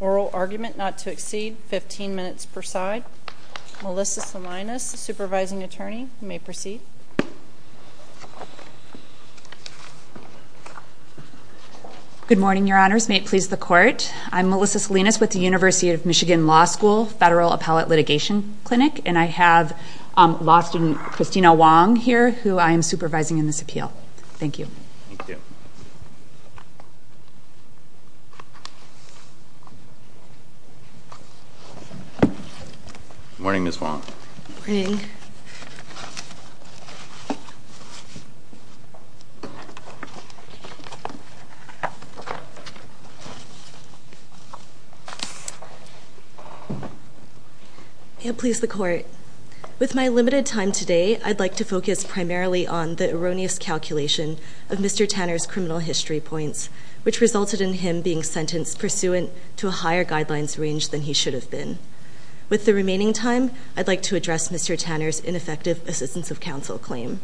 oral argument not to exceed 15 minutes per side. Melissa Salinas, Supervising Attorney, you may proceed. Good morning, your honors. May it please the court, I'm Melissa Salinas with the University of Michigan Law School, and I'm here to speak on behalf of the Law School Federal Appellate Litigation Clinic, and I have law student Christina Wong here, who I am supervising in this appeal. Thank you. Thank you. Good morning, Ms. Wong. Good morning. May it please the court, with my limited time today, I'd like to focus primarily on the erroneous calculation of Mr. Tanner's criminal history points, which resulted in him being sentenced pursuant to a higher guidelines range than he should have been. With the remaining time, I'd like to address Mr. Tanner's ineffective assistance of counsel claim.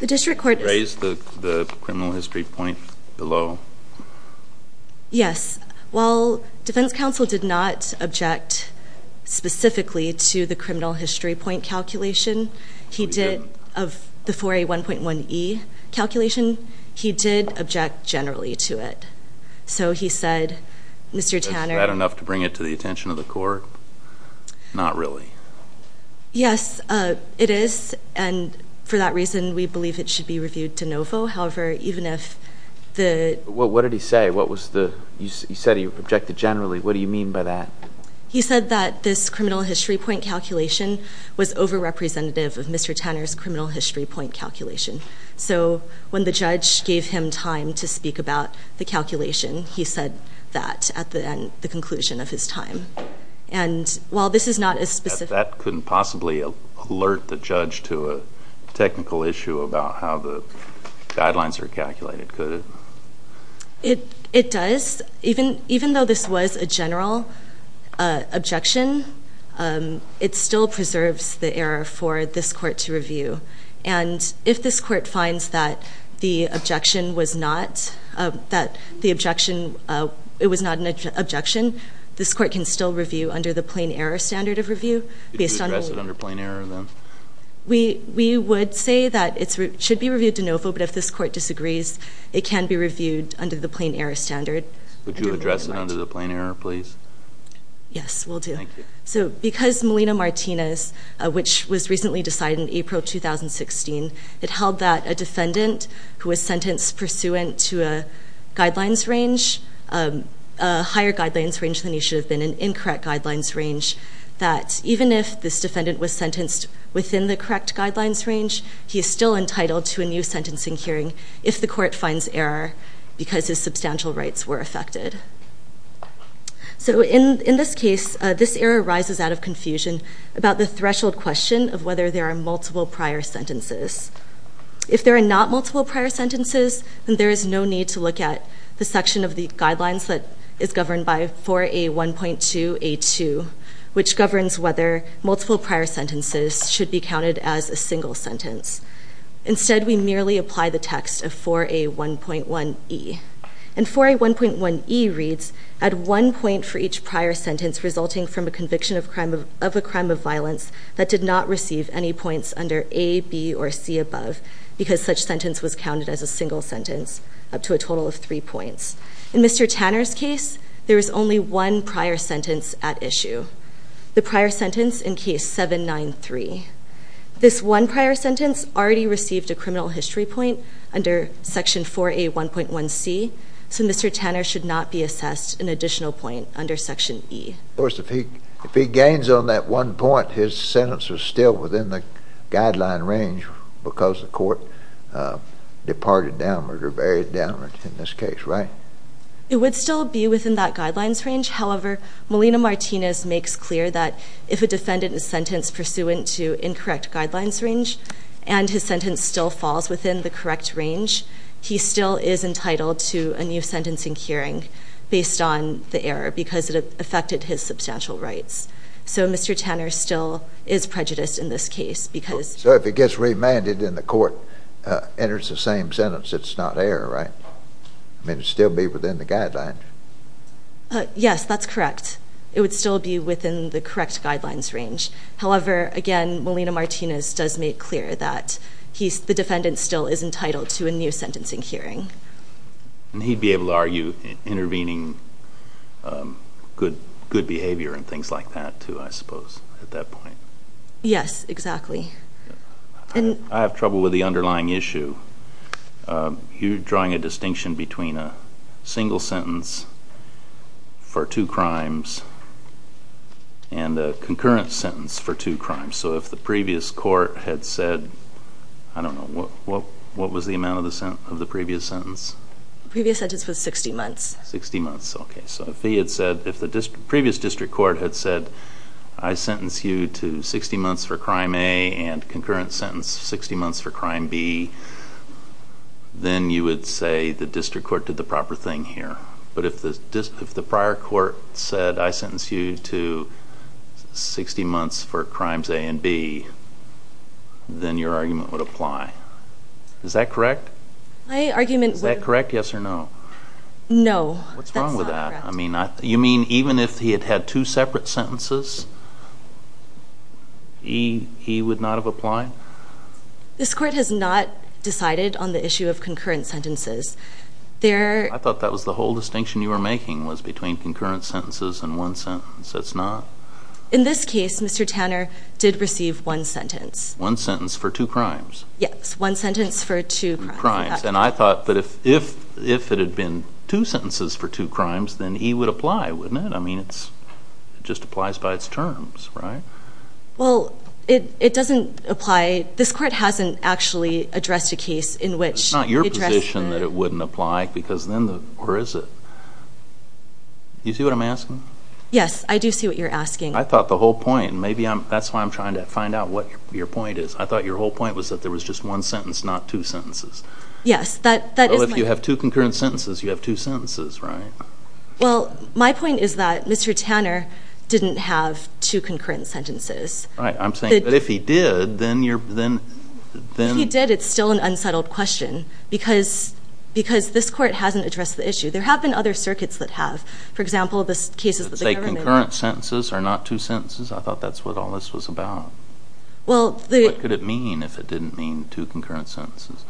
The district court raised the criminal history point below. Yes. While defense counsel did not object specifically to the criminal history point calculation, he did, of the 4A1.1E calculation, he did object generally to it. So he said, Mr. Tanner... Is that enough to bring it to the attention of the court? Not really. Yes, it is, and for that reason, we believe it should be reviewed de novo. However, even if the... What did he say? He said he objected generally. What do you mean by that? He said that this criminal history point calculation was over-representative of Mr. Tanner's criminal history point calculation. So when the judge gave him time to speak about the calculation, he said that at the end, the conclusion of his time. And while this is not as specific... That couldn't possibly alert the judge to a technical issue about how the guidelines are calculated, could it? It does. Even though this was a general objection, it still preserves the error for this court to review. And if this court finds that the objection was not an objection, this court can still review under the plain error standard of review. We would say that it should be reviewed de novo, but if this court disagrees, it can be reviewed under the plain error standard. Would you address it under the plain error, please? Yes, we'll do. So because Melina Martinez, which was recently decided in April 2016, it held that a defendant who was sentenced pursuant to a guidelines range, a higher guidelines range than he should have been, an incorrect guidelines range, that even if this defendant was sentenced within the correct guidelines range, he is still entitled to a new sentencing hearing if the court finds error because his substantial rights were affected. So in this case, this error rises out of confusion about the threshold question of whether there are multiple prior sentences. If there are not multiple prior sentences, then there is no need to look at the section of the guidelines that is governed by 4A1.2A2, which governs whether multiple prior sentences should be counted as a single sentence. Instead, we merely apply the text of 4A1.1E. And 4A1.1E reads, add one point for each prior sentence resulting from a conviction of a crime of violence that did not receive any points under A, B, or C above, because such sentence was counted as a single sentence, up to a total of three points. In Mr. Tanner's case, there is only one prior sentence at issue, the prior sentence in case 793. This one prior sentence already received a criminal history point under section 4A1.1C, so Mr. Tanner should not be assessed an additional point under section E. Of course, if he gains on that one point, his sentence is still within the guideline range because the court departed downward or varied downward in this case, right? It would still be within that guidelines range. However, Melina Martinez makes clear that if a defendant is sentenced pursuant to incorrect guidelines range and his sentence still falls within the correct range, he still is entitled to a new sentencing hearing based on the error because it affected his substantial rights. So Mr. Tanner still is prejudiced in this case because... So if he gets remanded and the court enters the same sentence, it's not error, right? It would still be within the guidelines. Yes, that's correct. It would still be within the correct guidelines range. However, again, Melina Martinez does make clear that the defendant still is entitled to a new sentencing hearing. And he'd be able to argue intervening good behavior and things like that too, I suppose, at that point. Yes, exactly. I have trouble with the underlying issue. You're drawing a distinction between a single sentence for two crimes and a concurrent sentence for two crimes. So if the previous court had said, I don't know, what was the amount of the previous sentence? The previous sentence was 60 months. 60 months, okay. So if the previous district court had said, I sentence you to 60 months for crime A and concurrent sentence 60 months for crime B, then you would say the district court did the proper thing here. But if the prior court said, I sentence you to 60 months for crimes A and B, then your argument would apply. Is that correct? My argument would... Is that correct, yes or no? No, that's not correct. What's wrong with that? You mean even if he had had two separate sentences, he would not have applied? This court has not decided on the issue of concurrent sentences. I thought that was the whole distinction you were making was between concurrent sentences and one sentence. That's not? In this case, Mr. Tanner did receive one sentence. One sentence for two crimes? Yes, one sentence for two crimes. And I thought that if it had been two sentences for two crimes, then he would apply, wouldn't it? I mean, it just applies by its terms, right? Well, it doesn't apply. This court hasn't actually addressed a case in which... It's not your position that it wouldn't apply because then the... Or is it? Do you see what I'm asking? Yes, I do see what you're asking. I thought the whole point, maybe that's why I'm trying to find out what your point is. I thought your whole point was that there was just one sentence, not two sentences. Yes, that is my... Well, if you have two concurrent sentences, you have two sentences, right? Well, my point is that Mr. Tanner didn't have two concurrent sentences. Right, I'm saying that if he did, then you're... If he did, it's still an unsettled question because this court hasn't addressed the issue. There have been other circuits that have. For example, the cases that the government... Say concurrent sentences are not two sentences? I thought that's what all this was about. Well, the... What could it mean if it didn't mean two concurrent sentences?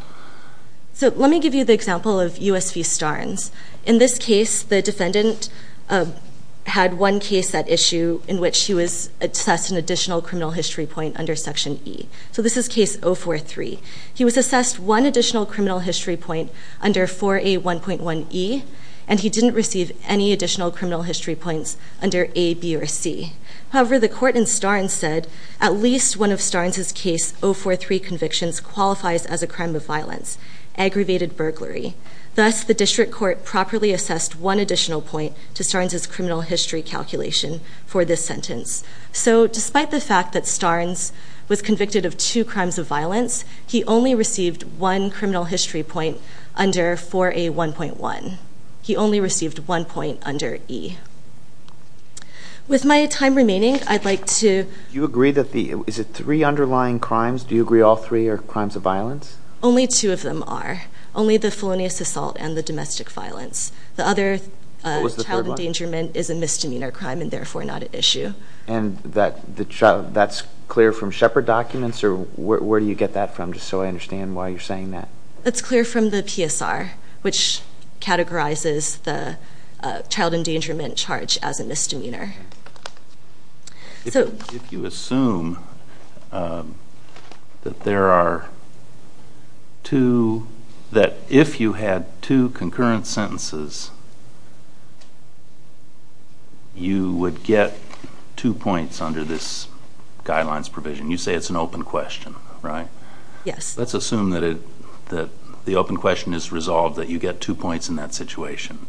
So let me give you the example of U.S. v. Starnes. In this case, the defendant had one case at issue in which he was assessed an additional criminal history point under Section E. So this is case 043. He was assessed one additional criminal history point under 4A1.1E, and he didn't receive any additional criminal history points under A, B, or C. However, the court in Starnes said at least one of Starnes' case 043 convictions qualifies as a crime of violence, aggravated burglary. Thus, the district court properly assessed one additional point to Starnes' criminal history calculation for this sentence. So despite the fact that Starnes was convicted of two crimes of violence, he only received one criminal history point under 4A1.1. He only received one point under E. With my time remaining, I'd like to... Do you agree that the... Is it three underlying crimes? Do you agree all three are crimes of violence? Only two of them are, only the felonious assault and the domestic violence. The other... What was the third one? ...child endangerment is a misdemeanor crime and therefore not an issue. And that's clear from Shepard documents? Or where do you get that from, just so I understand why you're saying that? It's clear from the PSR, which categorizes the child endangerment charge as a misdemeanor. If you assume that there are two... That if you had two concurrent sentences, you would get two points under this guidelines provision. You say it's an open question, right? Yes. Let's assume that the open question is resolved, that you get two points in that situation.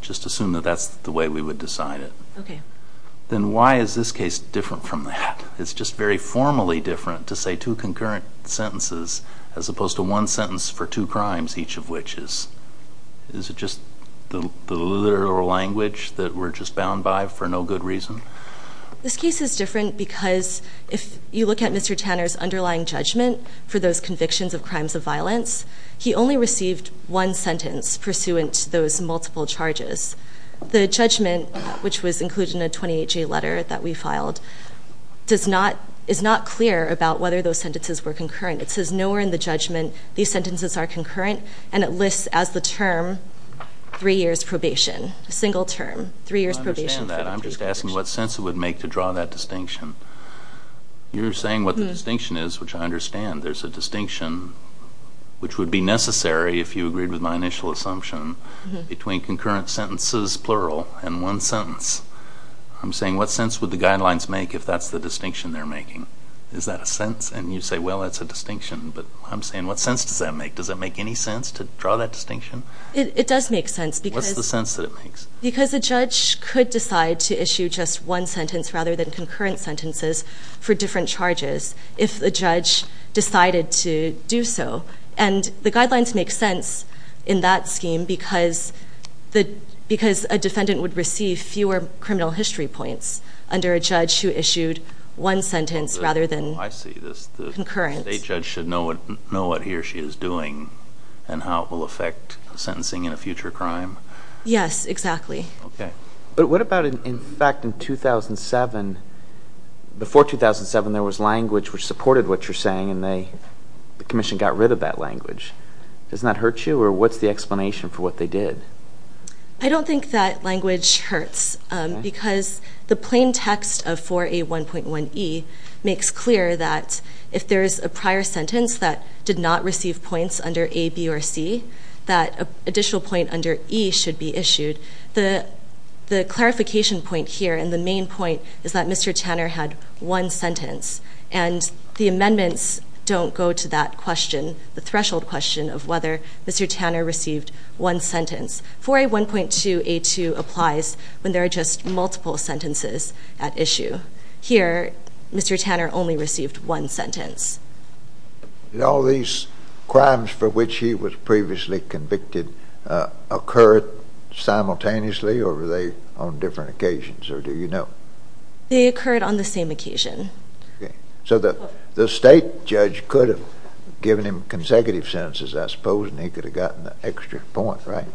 Just assume that that's the way we would decide it. Okay. Then why is this case different from that? It's just very formally different to say two concurrent sentences as opposed to one sentence for two crimes, each of which is... Is it just the literal language that we're just bound by for no good reason? This case is different because if you look at Mr. Tanner's underlying judgment for those convictions of crimes of violence, he only received one sentence pursuant to those multiple charges. The judgment, which was included in a 28-G letter that we filed, is not clear about whether those sentences were concurrent. It says nowhere in the judgment these sentences are concurrent, and it lists as the term three years probation, a single term, three years probation. I understand that. I'm just asking what sense it would make to draw that distinction. You're saying what the distinction is, which I understand. There's a distinction, which would be necessary if you agreed with my initial assumption, between concurrent sentences, plural, and one sentence. I'm saying what sense would the guidelines make if that's the distinction they're making? Is that a sense? And you say, well, that's a distinction, but I'm saying what sense does that make? Does it make any sense to draw that distinction? What's the sense that it makes? Because a judge could decide to issue just one sentence rather than concurrent sentences for different charges if the judge decided to do so. And the guidelines make sense in that scheme because a defendant would receive fewer criminal history points under a judge who issued one sentence rather than concurrent. I see. The state judge should know what he or she is doing and how it will affect sentencing in a future crime. Yes, exactly. Okay. But what about, in fact, in 2007? Before 2007, there was language which supported what you're saying, and the commission got rid of that language. Does that hurt you, or what's the explanation for what they did? I don't think that language hurts because the plain text of 4A1.1E makes clear that if there's a prior sentence that did not receive points under A, B, or C, that an additional point under E should be issued. The clarification point here, and the main point, is that Mr. Tanner had one sentence, and the amendments don't go to that question, the threshold question of whether Mr. Tanner received one sentence. 4A1.2A2 applies when there are just multiple sentences at issue. Did all these crimes for which he was previously convicted occur simultaneously, or were they on different occasions, or do you know? They occurred on the same occasion. Okay. So the state judge could have given him consecutive sentences, I suppose, and he could have gotten the extra point, right?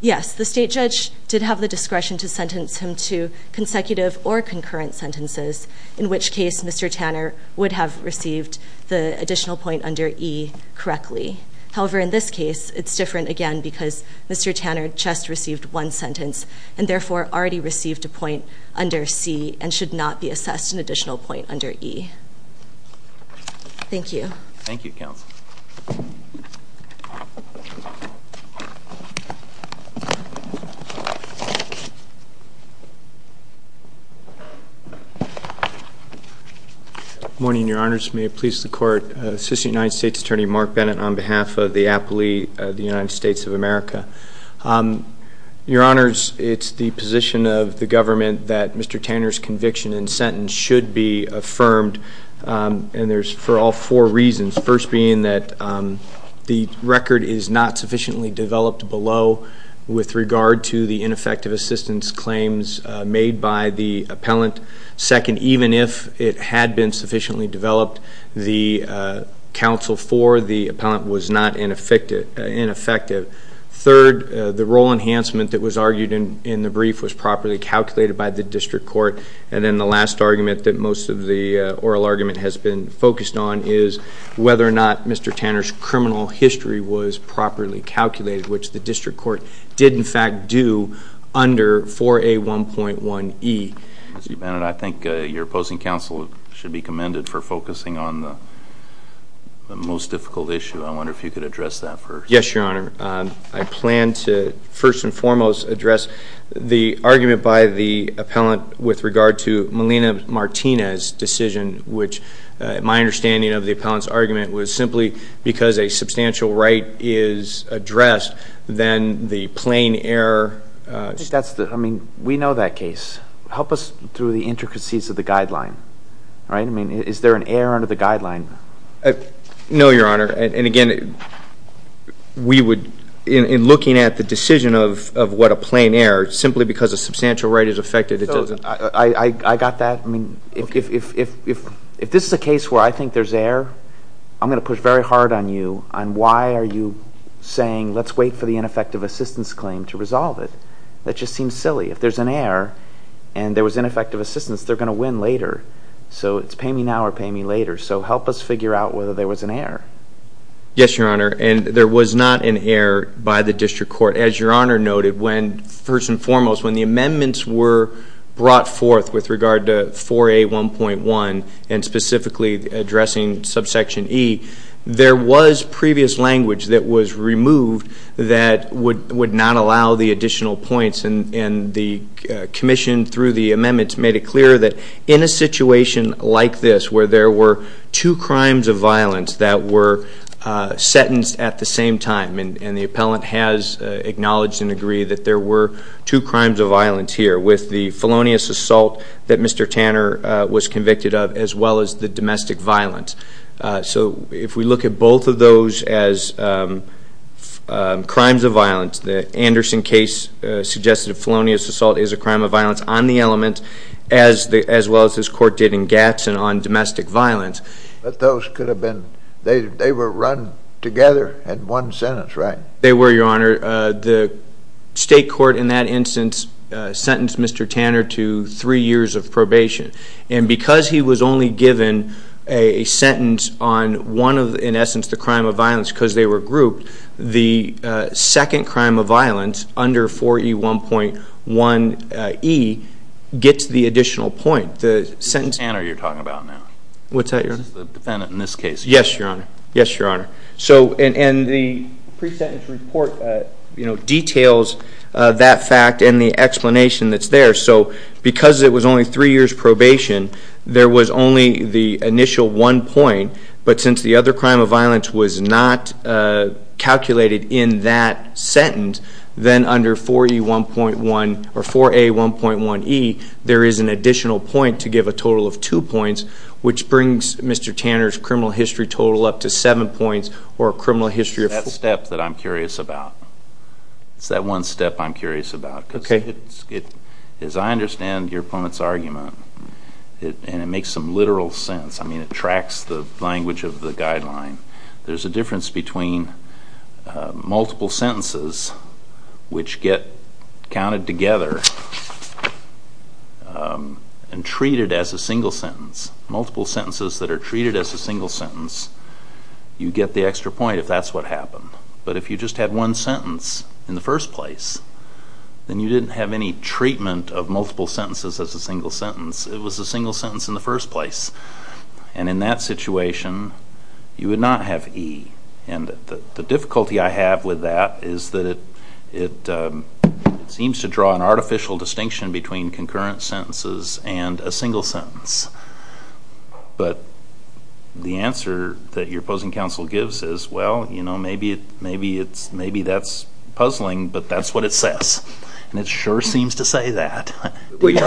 Yes, the state judge did have the discretion to sentence him to consecutive or concurrent sentences, in which case Mr. Tanner would have received the additional point under E correctly. However, in this case, it's different again because Mr. Tanner just received one sentence, and therefore already received a point under C, and should not be assessed an additional point under E. Thank you. Thank you, counsel. Thank you. Good morning, Your Honors. May it please the Court. Assistant United States Attorney Mark Bennett on behalf of the aptly of the United States of America. Your Honors, it's the position of the government that Mr. Tanner's conviction and sentence should be affirmed, and there's for all four reasons, first being that the record is not sufficiently developed below with regard to the ineffective assistance claims made by the appellant. Second, even if it had been sufficiently developed, the counsel for the appellant was not ineffective. Third, the role enhancement that was argued in the brief was properly calculated by the district court. And then the last argument that most of the oral argument has been focused on is whether or not Mr. Tanner's criminal history was properly calculated, which the district court did in fact do under 4A1.1E. Mr. Bennett, I think your opposing counsel should be commended for focusing on the most difficult issue. I wonder if you could address that first. Yes, Your Honor. I plan to first and foremost address the argument by the appellant with regard to Melina Martinez's decision, which my understanding of the appellant's argument was simply because a substantial right is addressed, then the plain error. I mean, we know that case. Help us through the intricacies of the guideline. All right? I mean, is there an error under the guideline? No, Your Honor. And, again, we would, in looking at the decision of what a plain error, simply because a substantial right is affected, it doesn't. I got that. I mean, if this is a case where I think there's error, I'm going to push very hard on you on why are you saying let's wait for the ineffective assistance claim to resolve it. That just seems silly. If there's an error and there was ineffective assistance, they're going to win later. So it's pay me now or pay me later. So help us figure out whether there was an error. Yes, Your Honor. And there was not an error by the district court. As Your Honor noted, first and foremost, when the amendments were brought forth with regard to 4A.1.1 and specifically addressing subsection E, there was previous language that was removed that would not allow the additional points. And the commission, through the amendments, made it clear that in a situation like this where there were two crimes of violence that were sentenced at the same time, and the appellant has acknowledged and agreed that there were two crimes of violence here with the felonious assault that Mr. Tanner was convicted of as well as the domestic violence. So if we look at both of those as crimes of violence, the Anderson case suggested felonious assault is a crime of violence on the element as well as this court did in Gadsden on domestic violence. But those could have been, they were run together in one sentence, right? They were, Your Honor. The state court in that instance sentenced Mr. Tanner to three years of probation. And because he was only given a sentence on one of, in essence, the crime of violence because they were grouped, the second crime of violence under 4E1.1E gets the additional point. Mr. Tanner you're talking about now. What's that, Your Honor? The defendant in this case. Yes, Your Honor. Yes, Your Honor. And the pre-sentence report details that fact and the explanation that's there. So because it was only three years probation, there was only the initial one point. But since the other crime of violence was not calculated in that sentence, then under 4E1.1 or 4A1.1E there is an additional point to give a total of two points, which brings Mr. Tanner's criminal history total up to seven points or a criminal history of four. It's that step that I'm curious about. It's that one step I'm curious about. As I understand your opponent's argument, and it makes some literal sense, I mean it tracks the language of the guideline, there's a difference between multiple sentences which get counted together and treated as a single sentence. Multiple sentences that are treated as a single sentence, you get the extra point if that's what happened. But if you just had one sentence in the first place, then you didn't have any treatment of multiple sentences as a single sentence. It was a single sentence in the first place. And in that situation, you would not have E. And the difficulty I have with that is that it seems to draw an artificial distinction between concurrent sentences and a single sentence. But the answer that your opposing counsel gives is, well, you know, maybe that's puzzling, but that's what it says. And it sure seems to say that. Do you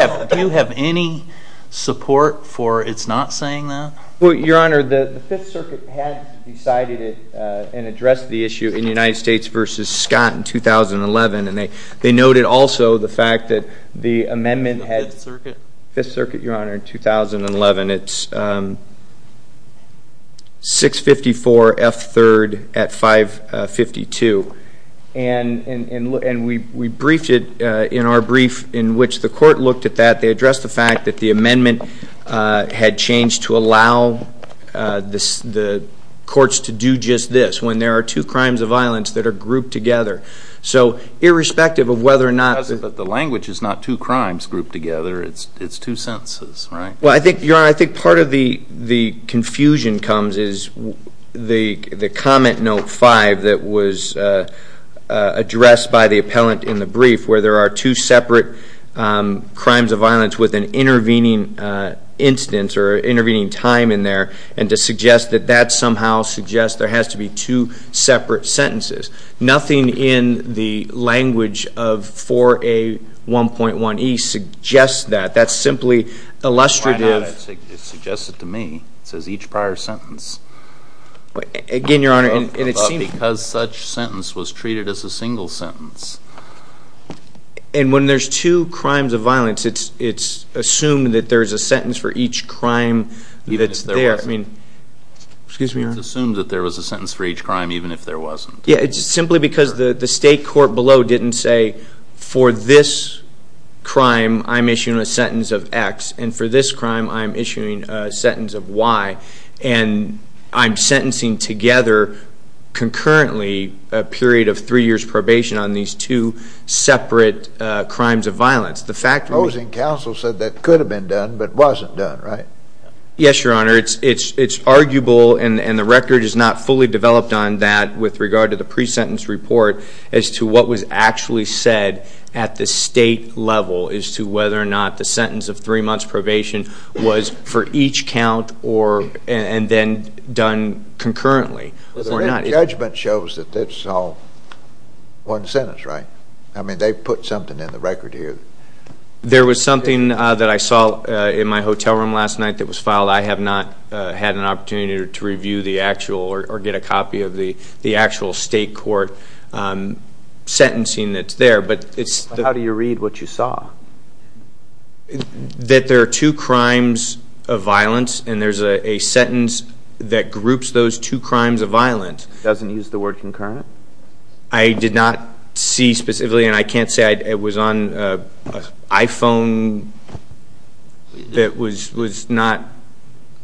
have any support for it's not saying that? Well, Your Honor, the Fifth Circuit had decided it and addressed the issue in United States v. Scott in 2011, and they noted also the fact that the amendment had been in the Fifth Circuit, Your Honor, in 2011. It's 654 F. 3rd at 552. And we briefed it in our brief in which the court looked at that. They addressed the fact that the amendment had changed to allow the courts to do just this, when there are two crimes of violence that are grouped together. So irrespective of whether or not the language is not two crimes grouped together, it's two sentences, right? Well, Your Honor, I think part of the confusion comes is the comment note five that was addressed by the appellant in the brief where there are two separate crimes of violence with an intervening instance or intervening time in there, and to suggest that that somehow suggests there has to be two separate sentences. Nothing in the language of 4A. 1.1e suggests that. That's simply illustrative. Why not? It suggests it to me. It says each prior sentence. Again, Your Honor, and it seems... But because such sentence was treated as a single sentence. And when there's two crimes of violence, it's assumed that there's a sentence for each crime that's there. I mean... Excuse me, Your Honor. It's assumed that there was a sentence for each crime even if there wasn't. Yeah, it's simply because the state court below didn't say, for this crime, I'm issuing a sentence of X, and for this crime, I'm issuing a sentence of Y, and I'm sentencing together concurrently a period of three years' probation on these two separate crimes of violence. The fact... Opposing counsel said that could have been done but wasn't done, right? Yes, Your Honor. It's arguable, and the record is not fully developed on that with regard to the pre-sentence report as to what was actually said at the state level as to whether or not the sentence of three months' probation was for each count and then done concurrently or not. The judgment shows that it's all one sentence, right? I mean, they put something in the record here. There was something that I saw in my hotel room last night that was filed. I have not had an opportunity to review the actual or get a copy of the actual state court sentencing that's there, but it's... How do you read what you saw? That there are two crimes of violence, and there's a sentence that groups those two crimes of violence. It doesn't use the word concurrent? I did not see specifically, and I can't say I was on an iPhone that was not...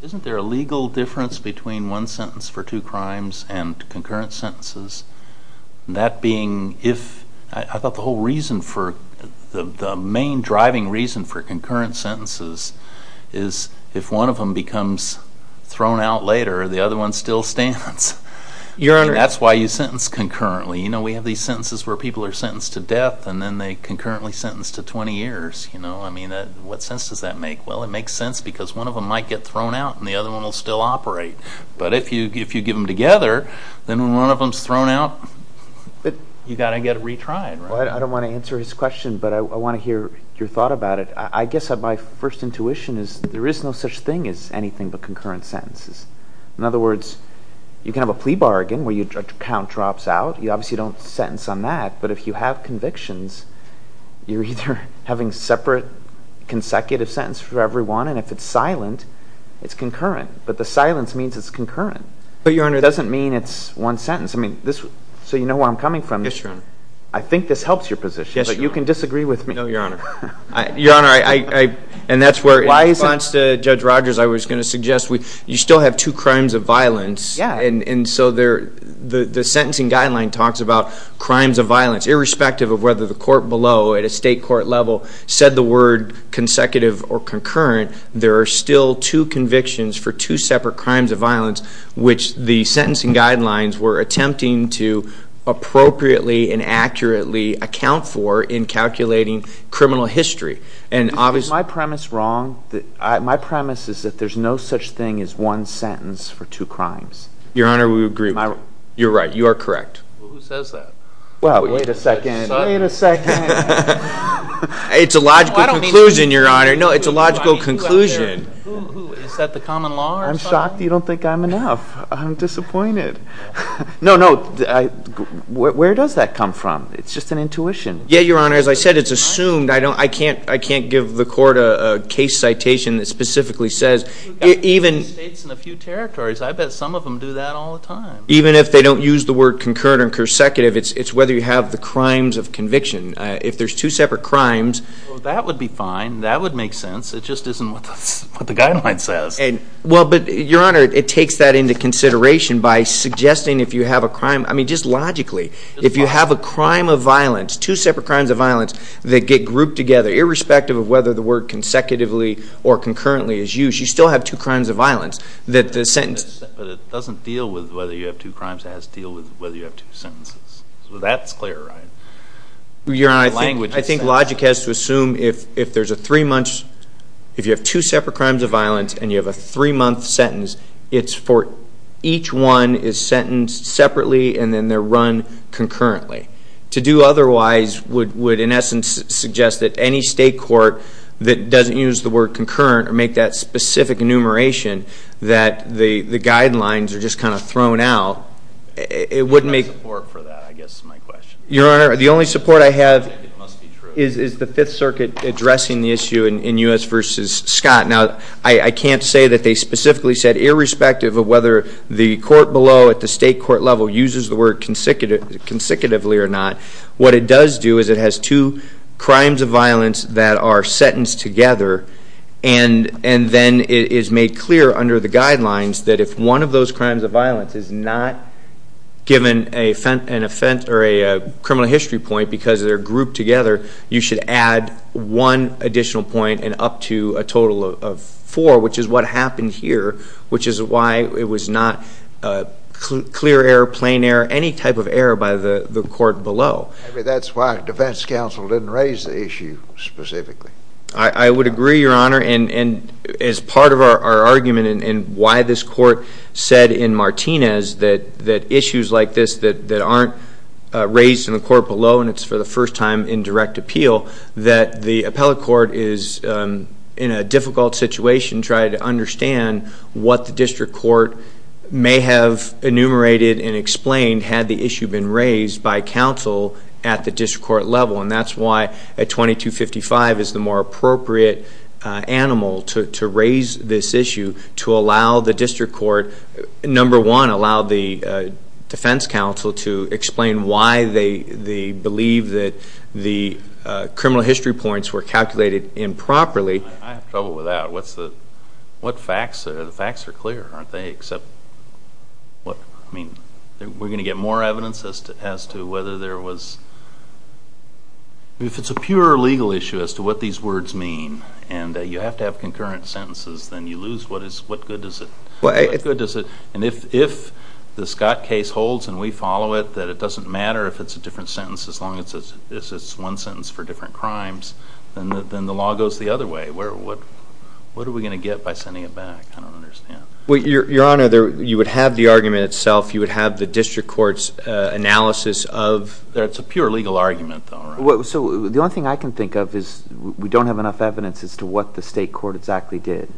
Isn't there a legal difference between one sentence for two crimes and concurrent sentences? That being if... I thought the whole reason for the main driving reason for concurrent sentences is if one of them becomes thrown out later, the other one still stands. That's why you sentence concurrently. We have these sentences where people are sentenced to death, and then they concurrently sentence to 20 years. I mean, what sense does that make? Well, it makes sense because one of them might get thrown out, and the other one will still operate. But if you give them together, then when one of them is thrown out, you've got to get it retried. I don't want to answer his question, but I want to hear your thought about it. I guess my first intuition is there is no such thing as anything but concurrent sentences. In other words, you can have a plea bargain where your count drops out. You obviously don't sentence on that. But if you have convictions, you're either having separate consecutive sentences for every one, and if it's silent, it's concurrent. But the silence means it's concurrent. But, Your Honor... It doesn't mean it's one sentence. I mean, so you know where I'm coming from. Yes, Your Honor. I think this helps your position. Yes, Your Honor. But you can disagree with me. No, Your Honor. Your Honor, and that's where, in response to Judge Rogers, I was going to suggest you still have two crimes of violence. Yeah. And so the sentencing guideline talks about crimes of violence. Irrespective of whether the court below at a state court level said the word consecutive or concurrent, there are still two convictions for two separate crimes of violence, which the sentencing guidelines were attempting to appropriately and accurately account for in calculating criminal history. Is my premise wrong? My premise is that there's no such thing as one sentence for two crimes. Your Honor, we agree with you. You're right. You are correct. Well, who says that? Well, wait a second. Wait a second. It's a logical conclusion, Your Honor. No, it's a logical conclusion. Who? Is that the common law or something? I'm shocked you don't think I'm enough. I'm disappointed. No, no. Where does that come from? It's just an intuition. Yeah, Your Honor. As I said, it's assumed. I can't give the court a case citation that specifically says. Even states in a few territories, I bet some of them do that all the time. Even if they don't use the word concurrent or consecutive, it's whether you have the crimes of conviction. If there's two separate crimes. Well, that would be fine. That would make sense. It just isn't what the guideline says. Well, but, Your Honor, it takes that into consideration by suggesting if you have a crime. I mean, just logically. If you have a crime of violence, two separate crimes of violence that get grouped together, irrespective of whether the word consecutively or concurrently is used, you still have two crimes of violence. But it doesn't deal with whether you have two crimes. It has to deal with whether you have two sentences. So that's clear, right? Your Honor, I think logic has to assume if there's a three-month. If you have two separate crimes of violence and you have a three-month sentence, it's for each one is sentenced separately and then they're run concurrently. To do otherwise would, in essence, suggest that any state court that doesn't use the word concurrent or make that specific enumeration that the guidelines are just kind of thrown out, it wouldn't make. I support for that, I guess, is my question. Your Honor, the only support I have is the Fifth Circuit addressing the issue in U.S. v. Scott. Now, I can't say that they specifically said irrespective of whether the court below at the state court level uses the word consecutively or not. What it does do is it has two crimes of violence that are sentenced together and then it is made clear under the guidelines that if one of those crimes of violence is not given an offense or a criminal history point because they're grouped together, you should add one additional point and up to a total of four, which is what happened here, which is why it was not clear error, plain error, any type of error by the court below. I mean, that's why defense counsel didn't raise the issue specifically. I would agree, Your Honor, and as part of our argument and why this court said in Martinez that issues like this that aren't raised in the court below and it's for the first time in direct appeal, that the appellate court is in a difficult situation trying to understand what the district court may have enumerated and explained had the issue been raised by counsel at the district court level. And that's why a 2255 is the more appropriate animal to raise this issue to allow the district court, number one, allow the defense counsel to explain why they believe that the criminal history points were calculated improperly. I have trouble with that. What facts? The facts are clear, aren't they, except we're going to get more evidence as to whether there was, if it's a pure legal issue as to what these words mean and you have to have concurrent sentences, then you lose what good is it. And if the Scott case holds and we follow it, that it doesn't matter if it's a different sentence as long as it's one sentence for different crimes, then the law goes the other way. What are we going to get by sending it back? I don't understand. Your Honor, you would have the argument itself. You would have the district court's analysis of it's a pure legal argument, though. The only thing I can think of is we don't have enough evidence as to what the state court exactly did.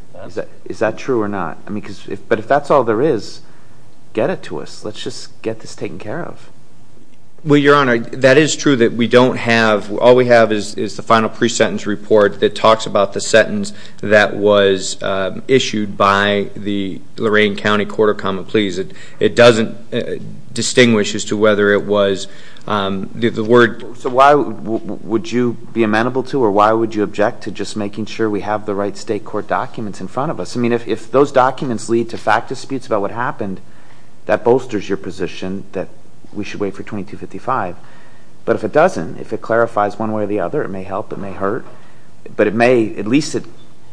Is that true or not? But if that's all there is, get it to us. Let's just get this taken care of. Well, Your Honor, that is true that we don't have, all we have is the final pre-sentence report that talks about the sentence that was issued by the Lorain County Court of Common Pleas. It doesn't distinguish as to whether it was the word. So why would you be amenable to or why would you object to just making sure we have the right state court documents in front of us? I mean, if those documents lead to fact disputes about what happened, that bolsters your position that we should wait for 2255. But if it doesn't, if it clarifies one way or the other, it may help, it may hurt. But it may, at least it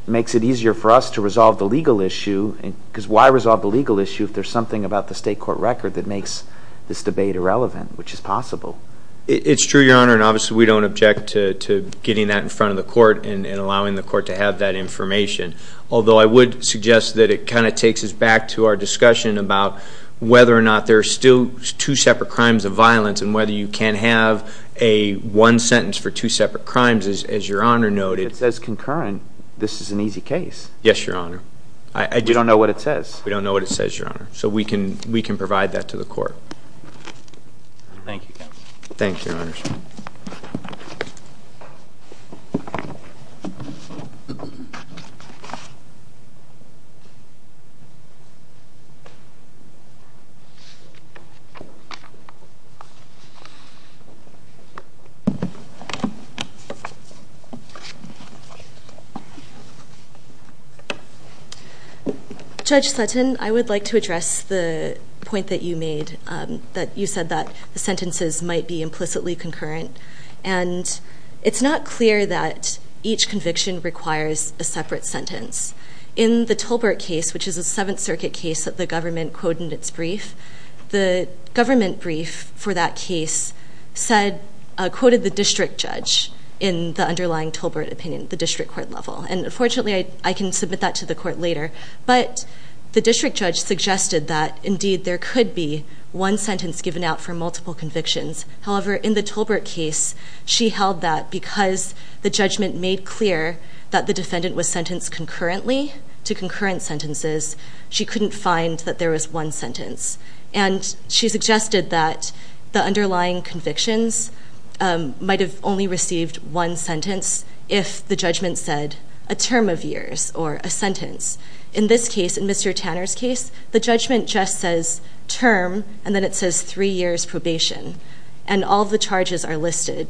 makes it easier for us to resolve the legal issue. Because why resolve the legal issue if there's something about the state court record that makes this debate irrelevant, which is possible. It's true, Your Honor, and obviously we don't object to getting that in front of the court and allowing the court to have that information. Although I would suggest that it kind of takes us back to our discussion about whether or not there are still two separate crimes of violence and whether you can have a one sentence for two separate crimes, as Your Honor noted. It says concurrent. This is an easy case. Yes, Your Honor. You don't know what it says. We don't know what it says, Your Honor. So we can provide that to the court. Thank you, Your Honor. Judge Sutton, I would like to address the point that you made, that you said that the sentences might be implicitly concurrent. And it's not clear that each conviction requires a separate sentence. In the Tolbert case, which is a Seventh Circuit case that the government quoted in its brief, the government brief for that case quoted the district judge in the underlying Tolbert opinion, the district court level. And, unfortunately, I can submit that to the court later. But the district judge suggested that, indeed, there could be one sentence given out for multiple convictions. However, in the Tolbert case, she held that because the judgment made clear that the defendant was sentenced concurrently to concurrent sentences, she couldn't find that there was one sentence. And she suggested that the underlying convictions might have only received one sentence if the judgment said a term of years or a sentence. In this case, in Mr. Tanner's case, the judgment just says term, and then it says three years probation. And all the charges are listed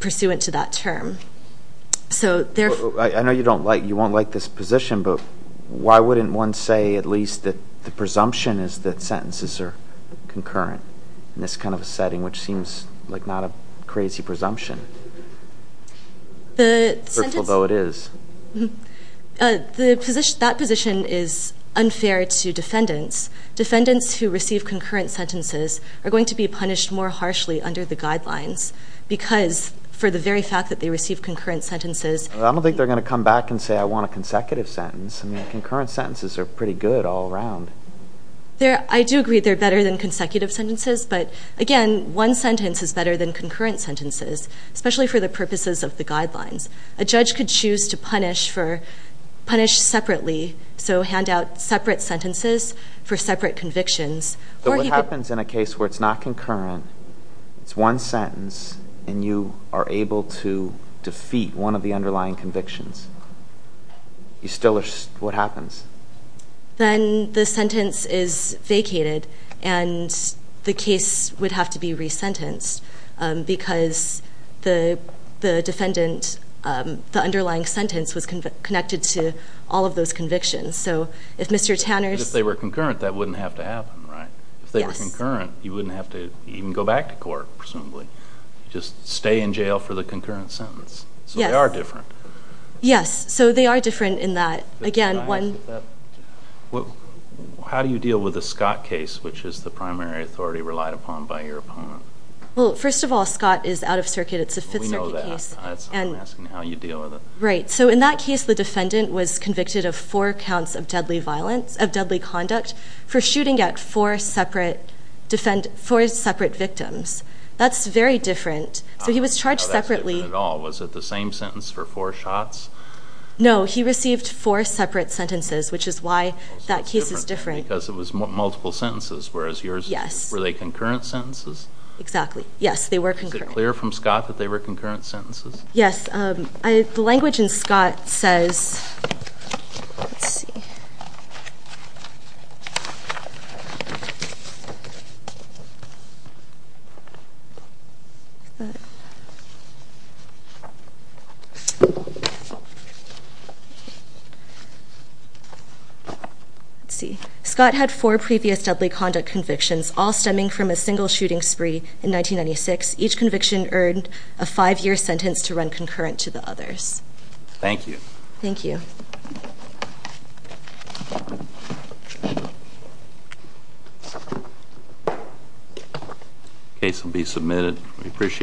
pursuant to that term. I know you won't like this position, but why wouldn't one say at least that the presumption is that sentences are concurrent in this kind of setting, which seems like not a crazy presumption, hurtful though it is? That position is unfair to defendants. Defendants who receive concurrent sentences are going to be punished more harshly under the guidelines because for the very fact that they receive concurrent sentences... I don't think they're going to come back and say, I want a consecutive sentence. I mean, concurrent sentences are pretty good all around. I do agree they're better than consecutive sentences. But, again, one sentence is better than concurrent sentences, especially for the purposes of the guidelines. A judge could choose to punish separately, so hand out separate sentences for separate convictions. But what happens in a case where it's not concurrent, it's one sentence, and you are able to defeat one of the underlying convictions? What happens? Then the sentence is vacated, and the case would have to be resentenced because the defendant, the underlying sentence, was connected to all of those convictions. So if Mr. Tanner's... If they were concurrent, that wouldn't have to happen, right? Yes. If they were concurrent, you wouldn't have to even go back to court, presumably. Just stay in jail for the concurrent sentence. Yes. So they are different. Yes. So they are different in that, again, one... How do you deal with a Scott case, which is the primary authority relied upon by your opponent? Well, first of all, Scott is out of circuit. It's a Fifth Circuit case. We know that. That's why I'm asking how you deal with it. Right. So in that case, the defendant was convicted of four counts of deadly conduct for shooting at four separate victims. That's very different. So he was charged separately. Oh, that's different at all. Was it the same sentence for four shots? No. He received four separate sentences, which is why that case is different. Well, so it's different then because it was multiple sentences, whereas yours... Yes. ...were they concurrent sentences? Exactly. Yes, they were concurrent. Is it clear from Scott that they were concurrent sentences? Yes. The language in Scott says... Let's see. Let's see. Scott had four previous deadly conduct convictions, all stemming from a single shooting spree in 1996. Each conviction earned a five-year sentence to run concurrent to the others. Thank you. Thank you. Case will be submitted. We appreciate it.